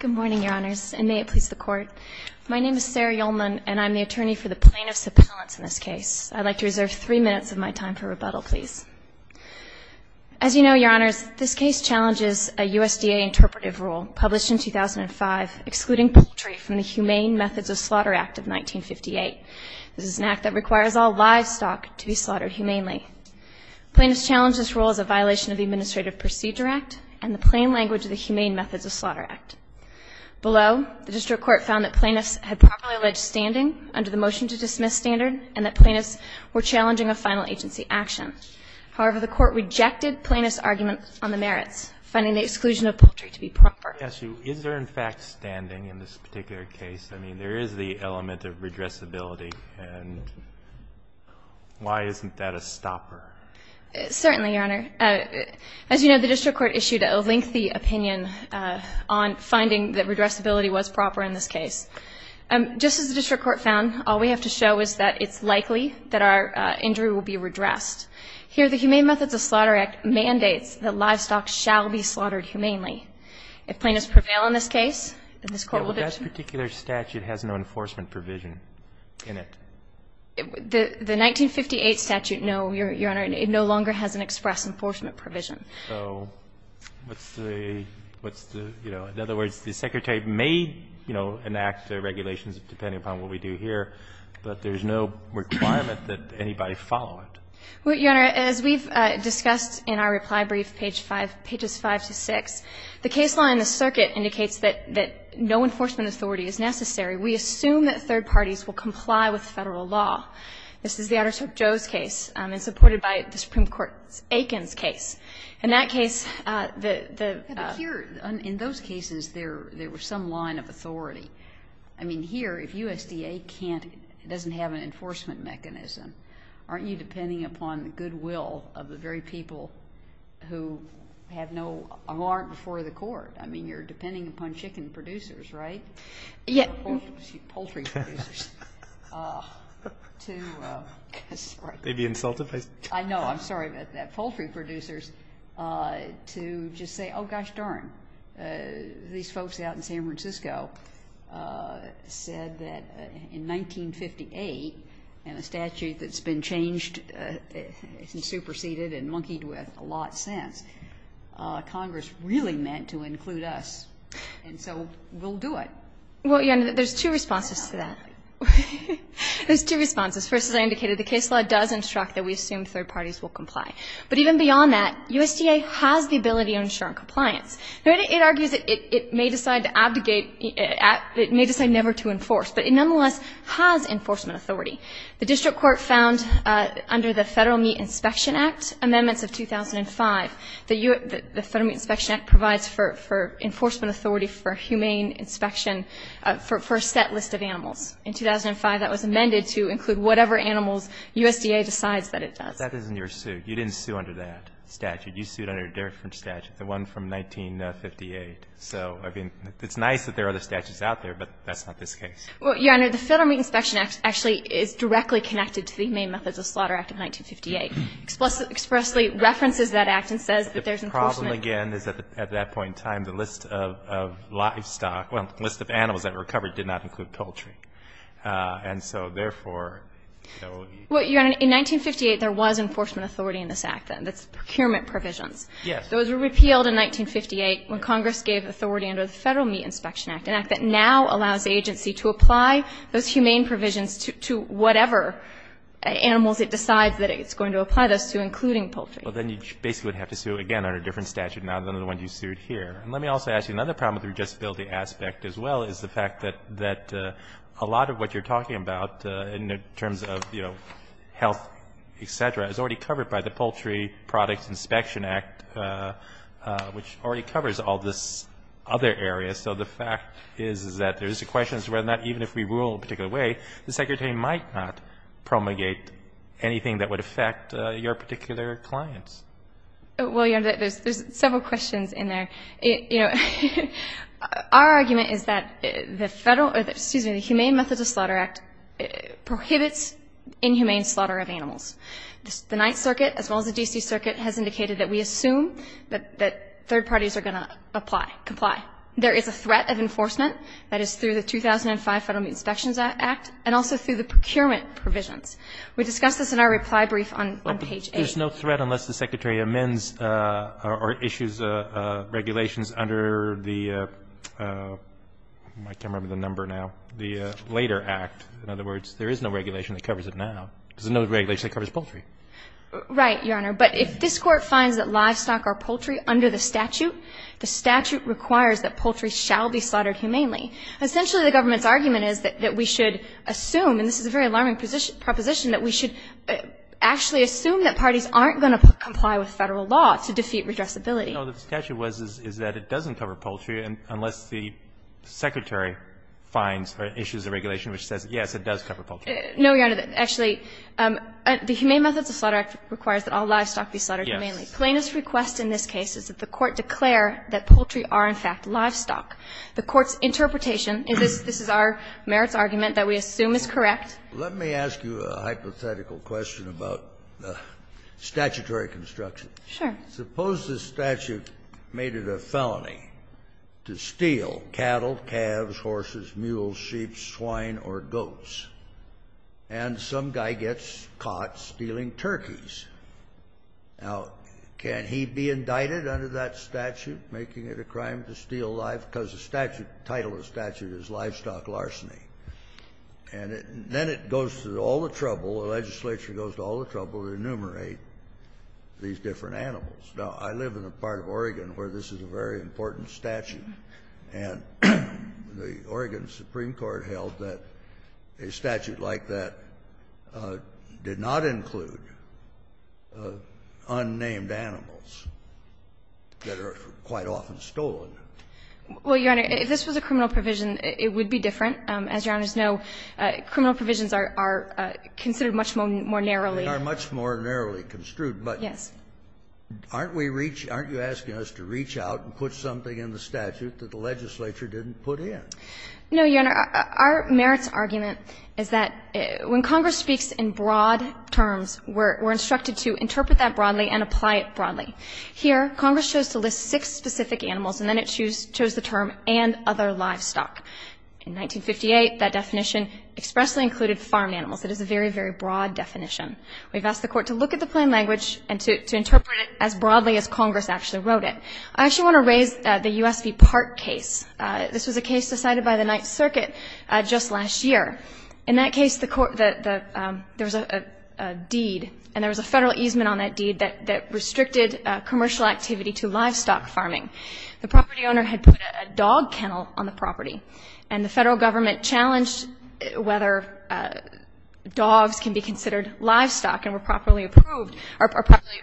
Good morning, your honors, and may it please the court. My name is Sarah Yolman, and I'm the attorney for the plaintiff's appellants in this case. I'd like to reserve three minutes of my time for rebuttal, please. As you know, your honors, this case challenges a USDA interpretive rule published in 2005, excluding poultry from the Humane Methods of Slaughter Act of 1958. This is an act that requires all livestock to be slaughtered humanely. Plaintiffs challenge this rule as a violation of the Administrative Procedure Act and the plain language of the Humane Methods of Slaughter Act. Below, the district court found that plaintiffs had properly alleged standing under the motion to dismiss standard, and that plaintiffs were challenging a final agency action. However, the court rejected plaintiffs' argument on the merits, finding the exclusion of poultry to be proper. Let me ask you, is there in fact standing in this particular case? And why isn't that a stopper? Certainly, your honor. As you know, the district court issued a lengthy opinion on finding that redressability was proper in this case. Just as the district court found, all we have to show is that it's likely that our injury will be redressed. Here, the Humane Methods of Slaughter Act mandates that livestock shall be slaughtered humanely. If plaintiffs prevail in this case, then this court will dis- That particular statute has no enforcement provision in it. The 1958 statute, no, your honor. It no longer has an express enforcement provision. So what's the, what's the, you know, in other words, the Secretary may, you know, enact regulations depending upon what we do here, but there's no requirement that anybody follow it. Well, your honor, as we've discussed in our reply brief, page 5, pages 5 to 6, the case law in the circuit indicates that no enforcement authority is necessary. We assume that third parties will comply with Federal law. This is the Otter's Hook Joe's case and supported by the Supreme Court Aiken's case. In that case, the- But here, in those cases, there were some line of authority. I mean, here, if USDA can't, doesn't have an enforcement mechanism, aren't you depending upon the goodwill of the very people who have no, who aren't before the court? I mean, you're depending upon chicken producers, right? Yeah. Poultry producers. To, I'm sorry. They'd be insulted by- I know, I'm sorry about that. Poultry producers to just say, oh, gosh darn. These folks out in San Francisco said that in 1958 and a statute that's been changed and superseded and monkeyed with a lot since, Congress really meant to include us, and so we'll do it. Well, your honor, there's two responses to that. There's two responses. First, as I indicated, the case law does instruct that we assume third parties will comply. But even beyond that, USDA has the ability to ensure compliance. It argues that it may decide to abdicate, it may decide never to enforce, but it nonetheless has enforcement authority. The district court found under the Federal Meat Inspection Act amendments of 2005, the Federal Meat Inspection Act provides for enforcement authority for humane inspection for a set list of animals. In 2005, that was amended to include whatever animals USDA decides that it does. But that isn't your suit. You didn't sue under that statute. You sued under a different statute, the one from 1958. So, I mean, it's nice that there are other statutes out there, but that's not this case. Well, your honor, the Federal Meat Inspection Act actually is directly connected to the main methods of slaughter act of 1958, expressly references that act and says that there's enforcement- The problem, again, is that at that point in time, the list of livestock, well, the list of animals that were recovered did not include poultry. And so, therefore, you know- Well, your honor, in 1958, there was enforcement authority in this act, then, that's procurement provisions. Yes. Those were repealed in 1958 when Congress gave authority under the Federal Meat Inspection Act, an act that now allows the agency to apply those humane provisions to whatever animals it decides that it's going to apply those to, including poultry. Well, then you basically would have to sue, again, under a different statute now than the one you sued here. Let me also ask you another problem with the rejectability aspect, as well, is the fact that a lot of what you're talking about, in terms of, you know, health, et cetera, is already covered by the Poultry Products Inspection Act, which already covers all this other area. So, the fact is that there's a question as to whether or not, even if we rule a particular way, the secretary might not promulgate anything that would affect your particular clients. Well, your honor, there's several questions in there. You know, our argument is that the Federal, or excuse me, the Humane Methods of Slaughter Act prohibits inhumane slaughter of animals. The Ninth Circuit, as well as the D.C. Circuit, has indicated that we assume that third parties are going to apply, comply. There is a threat of enforcement that is through the 2005 Federal Meat Inspections Act, and also through the procurement provisions. We discussed this in our reply brief on page eight. There's no threat unless the secretary amends or issues regulations under the, I can't remember the number now, the later act. In other words, there is no regulation that covers it now. There's no regulation that covers poultry. Right, your honor. But if this court finds that livestock or poultry, under the statute, the statute requires that poultry shall be slaughtered humanely. Essentially, the government's argument is that that we should actually assume that parties aren't going to comply with Federal law to defeat redressability. No, the statute was that it doesn't cover poultry unless the secretary finds or issues a regulation which says, yes, it does cover poultry. No, your honor. Actually, the Humane Methods of Slaughter Act requires that all livestock be slaughtered humanely. Plainest request in this case is that the court declare that poultry are, in fact, livestock. The court's interpretation, and this is our merits argument, that we assume is correct. Let me ask you a hypothetical question about statutory construction. Sure. Suppose the statute made it a felony to steal cattle, calves, horses, mules, sheep, swine, or goats, and some guy gets caught stealing turkeys. Now, can he be indicted under that statute, making it a crime to steal live? Because the statute, title of the statute is livestock larceny. And then it goes to all the trouble, the legislature goes to all the trouble to enumerate these different animals. Now, I live in a part of Oregon where this is a very important statute. And the Oregon Supreme Court held that a statute like that did not include unnamed animals that are quite often stolen. Well, your honor, if this was a criminal provision, it would be different. As your honors know, criminal provisions are considered much more narrowly. They are much more narrowly construed. But aren't we reaching, aren't you asking us to reach out and put something in the statute that the legislature didn't put in? No, your honor. Our merits argument is that when Congress speaks in broad terms, we're instructed to interpret that broadly and apply it broadly. Here, Congress chose to list six specific animals, and then it chose the term and other livestock. In 1958, that definition expressly included farm animals. It is a very, very broad definition. We've asked the court to look at the plain language and to interpret it as broadly as Congress actually wrote it. I actually want to raise the US v. Park case. This was a case decided by the Ninth Circuit just last year. In that case, there was a deed, and there was a federal easement on that deed that restricted commercial activity to livestock farming. The property owner had put a dog kennel on the property, and the federal government challenged whether dogs can be considered livestock and were properly approved or properly,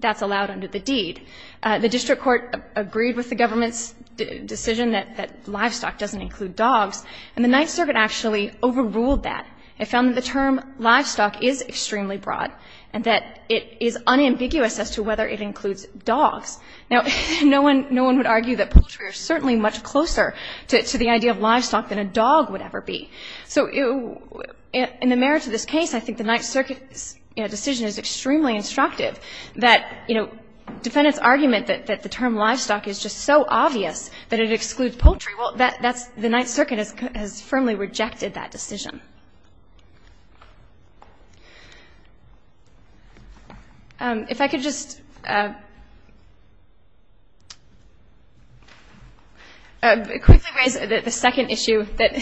that's allowed under the deed. The district court agreed with the government's decision that livestock doesn't include dogs. And the Ninth Circuit actually overruled that. It found that the term livestock is extremely broad and that it is unambiguous as to whether it includes dogs. Now, no one would argue that poultry are certainly much closer to the idea of livestock than a dog would ever be. So in the merits of this case, I think the Ninth Circuit's decision is extremely instructive that defendants' argument that the term livestock is just so obvious that it excludes poultry, well, the Ninth Circuit has firmly rejected that decision. If I could just quickly raise the second issue that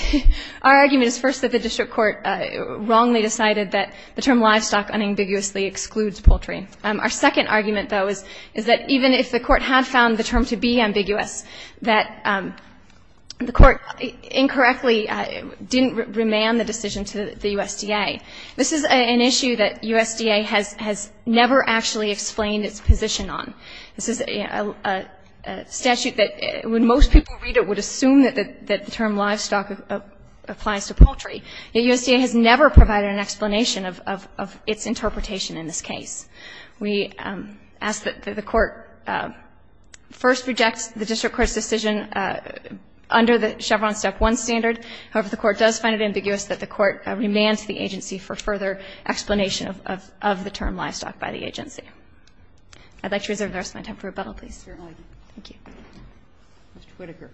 our argument is first that the district court wrongly decided that the term livestock unambiguously excludes poultry. Our second argument, though, is that even if the court had found the term to be ambiguous, that the court incorrectly didn't remand the decision to the USDA. This is an issue that USDA has never actually explained its position on. This is a statute that, when most people read it, would assume that the term livestock applies to poultry. Yet USDA has never provided an explanation of its interpretation in this case. We ask that the court first reject the district court's decision under the Chevron Step 1 standard. However, the court does find it ambiguous that the court remand to the agency for further explanation of the term livestock by the agency. I'd like to reserve the rest of my time for rebuttal, please. Roberts. Thank you. Roberts. Mr. Whitaker.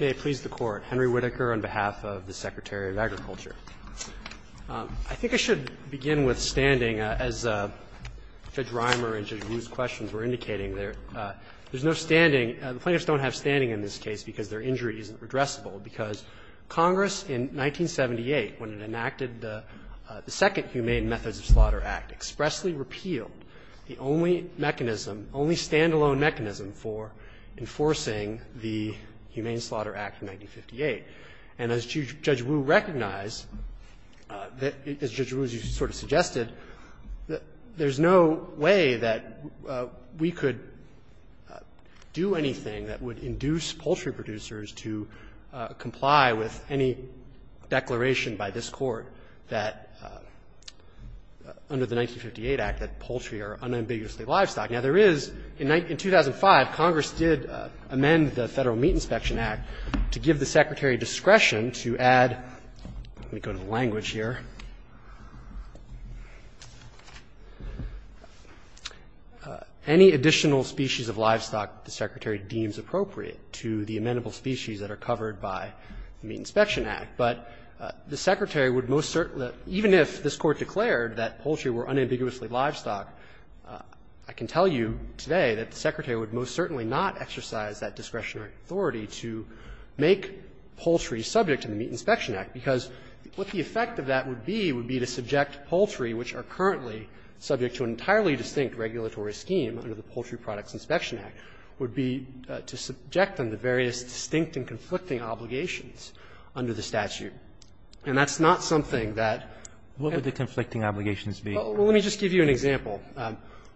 May it please the Court. Henry Whitaker on behalf of the Secretary of Agriculture. I think I should begin with standing. As Judge Reimer and Judge Wu's questions were indicating, there's no standing the plaintiffs don't have standing in this case because their injury isn't redressable, because Congress in 1978, when it enacted the second Humane Methods of Slaughter Act, expressly repealed the only mechanism, only stand-alone mechanism for enforcing the Humane Slaughter Act of 1958. And as Judge Wu recognized, as Judge Wu sort of suggested, there's no way that we could do anything that would induce poultry producers to comply with any declaration by this Court that under the 1958 Act that poultry are unambiguously livestock. Now, there is, in 2005, Congress did amend the Federal Meat Inspection Act to give the Secretary discretion to add, let me go to the language here, any additional species of livestock the Secretary deems appropriate to the amenable species that are covered by the Meat Inspection Act. But the Secretary would most certainly, even if this Court declared that poultry were unambiguously livestock, I can tell you today that the Secretary would most certainly not exercise that discretionary authority to make poultry subject to the Meat Inspection Act, because what the effect of that would be would be to subject poultry which are currently subject to an entirely distinct regulatory scheme under the Poultry Products Inspection Act would be to subject them to various distinct and conflicting obligations under the statute. And that's not something that can't be done. Roberts. What would the conflicting obligations be? Well, let me just give you an example.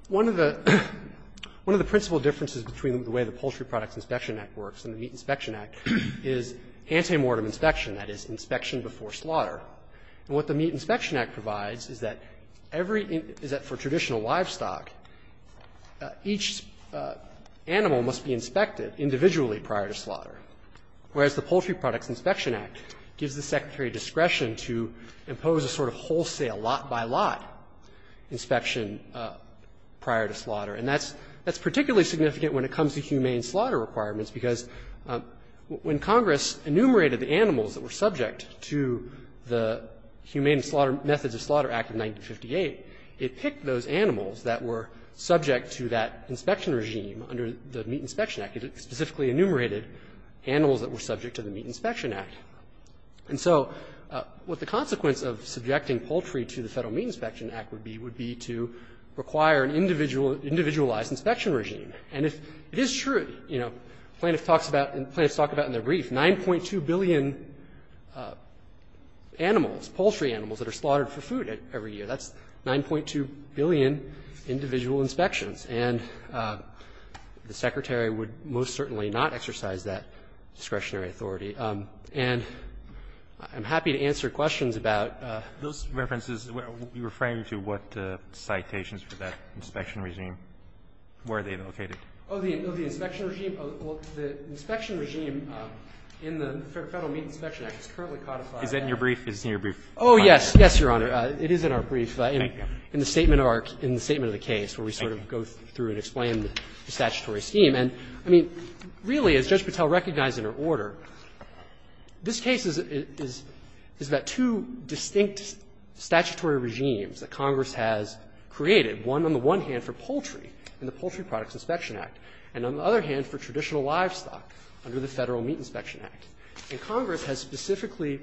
One of the principal differences between the way the Poultry Products Inspection Act works and the Meat Inspection Act is antemortem inspection, that is, inspection before slaughter. And what the Meat Inspection Act provides is that every — is that for traditional livestock, each animal must be inspected individually prior to slaughter, whereas the Poultry Products Inspection Act gives the Secretary discretion to impose a sort of wholesale lot-by-lot inspection prior to slaughter. And that's — that's particularly significant when it comes to humane slaughter requirements, because when Congress enumerated the animals that were subject to the Humane Slaughter — Methods of Slaughter Act of 1958, it picked those animals that were subject to that inspection regime under the Meat Inspection Act. It specifically enumerated animals that were subject to the Meat Inspection Act. And so what the consequence of subjecting poultry to the Federal Meat Inspection Act would be would be to require an individual — individualized inspection regime. And if it is true, you know, plaintiffs talk about — plaintiffs talk about in their report 9.2 billion animals, poultry animals that are slaughtered for food every year. That's 9.2 billion individual inspections. And the Secretary would most certainly not exercise that discretionary authority. And I'm happy to answer questions about — Those references — you're referring to what citations for that inspection regime? Where are they located? Oh, the inspection regime? Well, the inspection regime in the Federal Meat Inspection Act is currently codified as — Is that in your brief? Is it in your brief? Oh, yes. Yes, Your Honor. It is in our brief. Thank you. In the statement of our — in the statement of the case where we sort of go through and explain the statutory scheme. And, I mean, really, as Judge Patel recognized in her order, this case is — is about two distinct statutory regimes that Congress has created, one on the one hand for poultry in the Poultry Products Inspection Act, and on the other hand for traditional livestock under the Federal Meat Inspection Act. And Congress has specifically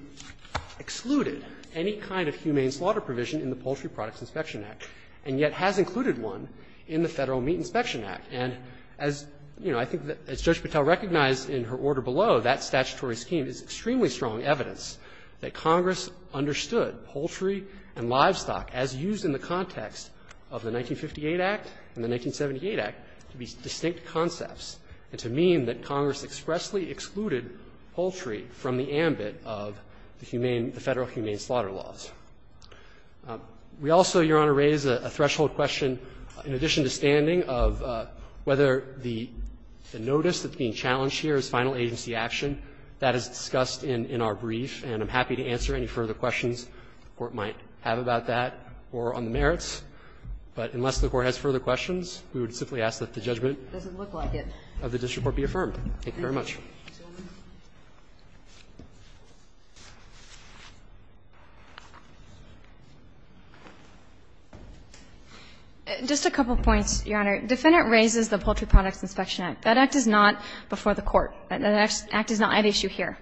excluded any kind of humane slaughter provision in the Poultry Products Inspection Act, and yet has included one in the Federal Meat Inspection Act. And as, you know, I think as Judge Patel recognized in her order below, that statutory scheme is extremely strong evidence that Congress understood poultry and livestock as used in the context of the 1958 Act and the 1978 Act to be distinct concepts and to mean that Congress expressly excluded poultry from the ambit of the humane — the Federal humane slaughter laws. We also, Your Honor, raise a threshold question in addition to standing of whether the notice that's being challenged here is final agency action. That is discussed in our brief, and I'm happy to answer any further questions the Court might have about that or on the merits, but unless the Court has further questions, we would simply ask that the judgment of the district court be affirmed. Thank you very much. Ms. O'Connell. O'Connell. Just a couple points, Your Honor. Defendant raises the Poultry Products Inspection Act. That Act is not before the Court. That Act is not at issue here.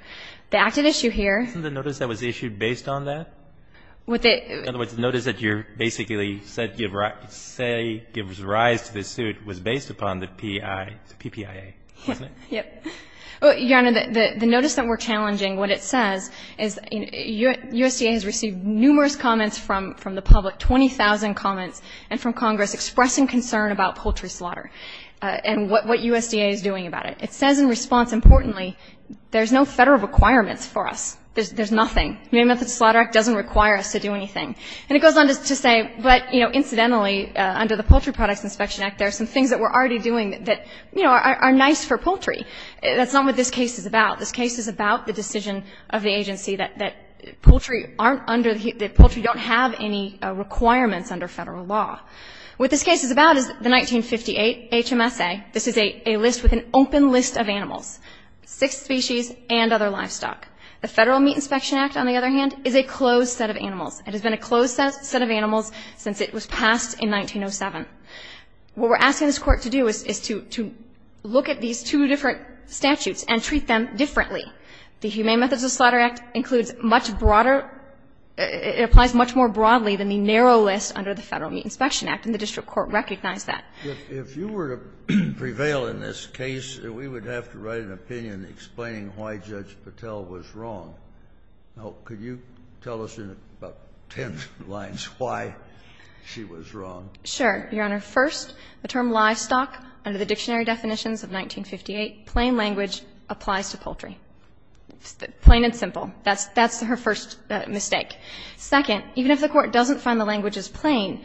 The Act at issue here— Wasn't the notice that was issued based on that? In other words, the notice that you basically said gives rise to this suit was based upon the PIA, the PPIA, wasn't it? Yes. Your Honor, the notice that we're challenging, what it says is USDA has received numerous comments from the public, 20,000 comments, and from Congress expressing concern about poultry slaughter and what USDA is doing about it. It says in response, importantly, there's no Federal requirements for us. There's nothing. The United Methodist Slaughter Act doesn't require us to do anything. And it goes on to say, but, you know, incidentally, under the Poultry Products Inspection Act, there are some things that we're already doing that, you know, are nice for poultry. That's not what this case is about. This case is about the decision of the agency that poultry aren't under the — that poultry don't have any requirements under Federal law. What this case is about is the 1958 HMSA. This is a list with an open list of animals, six species and other livestock. The Federal Meat Inspection Act, on the other hand, is a closed set of animals. It has been a closed set of animals since it was passed in 1907. What we're asking this Court to do is to look at these two different statutes and treat them differently. The Humane Methodist Slaughter Act includes much broader — it applies much more broadly than the narrow list under the Federal Meat Inspection Act, and the district court recognized that. If you were to prevail in this case, we would have to write an opinion explaining why Judge Patel was wrong. Now, could you tell us in about ten lines why she was wrong? Sure, Your Honor. First, the term livestock, under the dictionary definitions of 1958, plain language applies to poultry. Plain and simple. That's her first mistake. Second, even if the Court doesn't find the language is plain,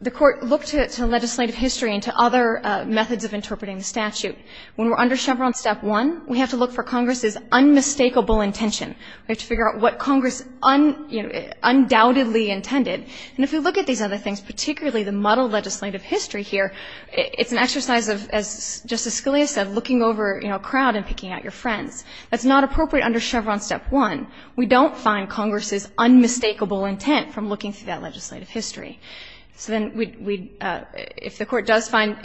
the Court looked to legislative history and to other methods of interpreting the statute. When we're under Chevron Step 1, we have to look for Congress's unmistakable intention. We have to figure out what Congress undoubtedly intended. And if we look at these other things, particularly the muddled legislative history here, it's an exercise of, as Justice Scalia said, looking over a crowd and picking out your friends. That's not appropriate under Chevron Step 1. We don't find Congress's unmistakable intent from looking through that legislative history. So then we'd – if the Court does find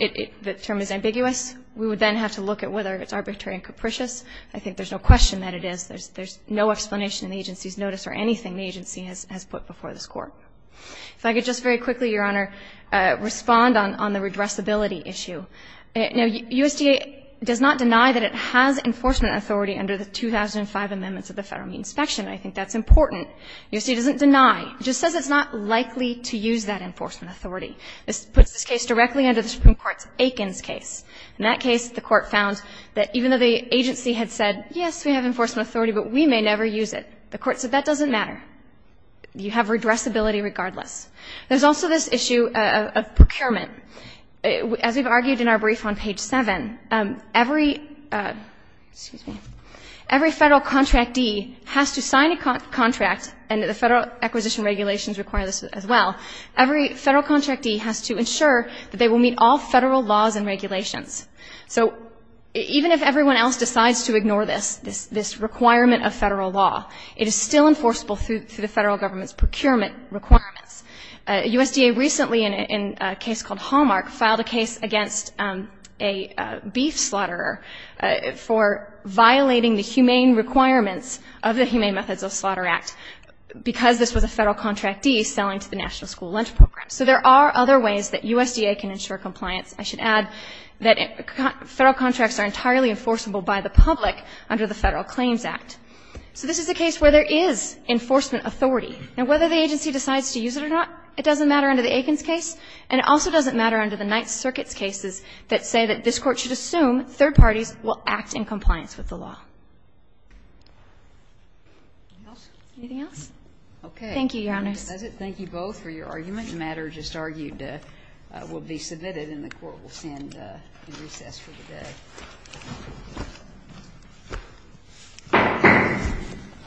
the term is ambiguous, we would then have to look at whether it's arbitrary and capricious. I think there's no question that it is. There's no explanation in the agency's notice or anything the agency has put before this Court. If I could just very quickly, Your Honor, respond on the redressability issue. Now, USDA does not deny that it has enforcement authority under the 2005 amendments of the Federal Meat Inspection. I think that's important. USDA doesn't deny. It just says it's not likely to use that enforcement authority. This puts this case directly under the Supreme Court's Aikens case. In that case, the Court found that even though the agency had said, yes, we have enforcement authority, but we may never use it, the Court said that doesn't matter. You have redressability regardless. There's also this issue of procurement. As we've argued in our brief on page 7, every – excuse me – every Federal contractee has to sign a contract, and the Federal acquisition regulations require this as well. Every Federal contractee has to ensure that they will meet all Federal laws and regulations. So even if everyone else decides to ignore this requirement of Federal law, it is still enforceable through the Federal government's procurement requirements. USDA recently, in a case called Hallmark, filed a case against a beef slaughterer for violating the humane requirements of the Humane Methods of Slaughter Act because this was a Federal contractee selling to the national school lunch program. So there are other ways that USDA can ensure compliance. I should add that Federal contracts are entirely enforceable by the public under the Federal Claims Act. So this is a case where there is enforcement authority. Now, whether the agency decides to use it or not, it doesn't matter under the Aikens case, and it also doesn't matter under the Ninth Circuit's cases that say that this is in compliance with the law. Anything else? Okay. Thank you, Your Honors. That does it. Thank you both for your argument. The matter just argued will be submitted, and the Court will send in recess for the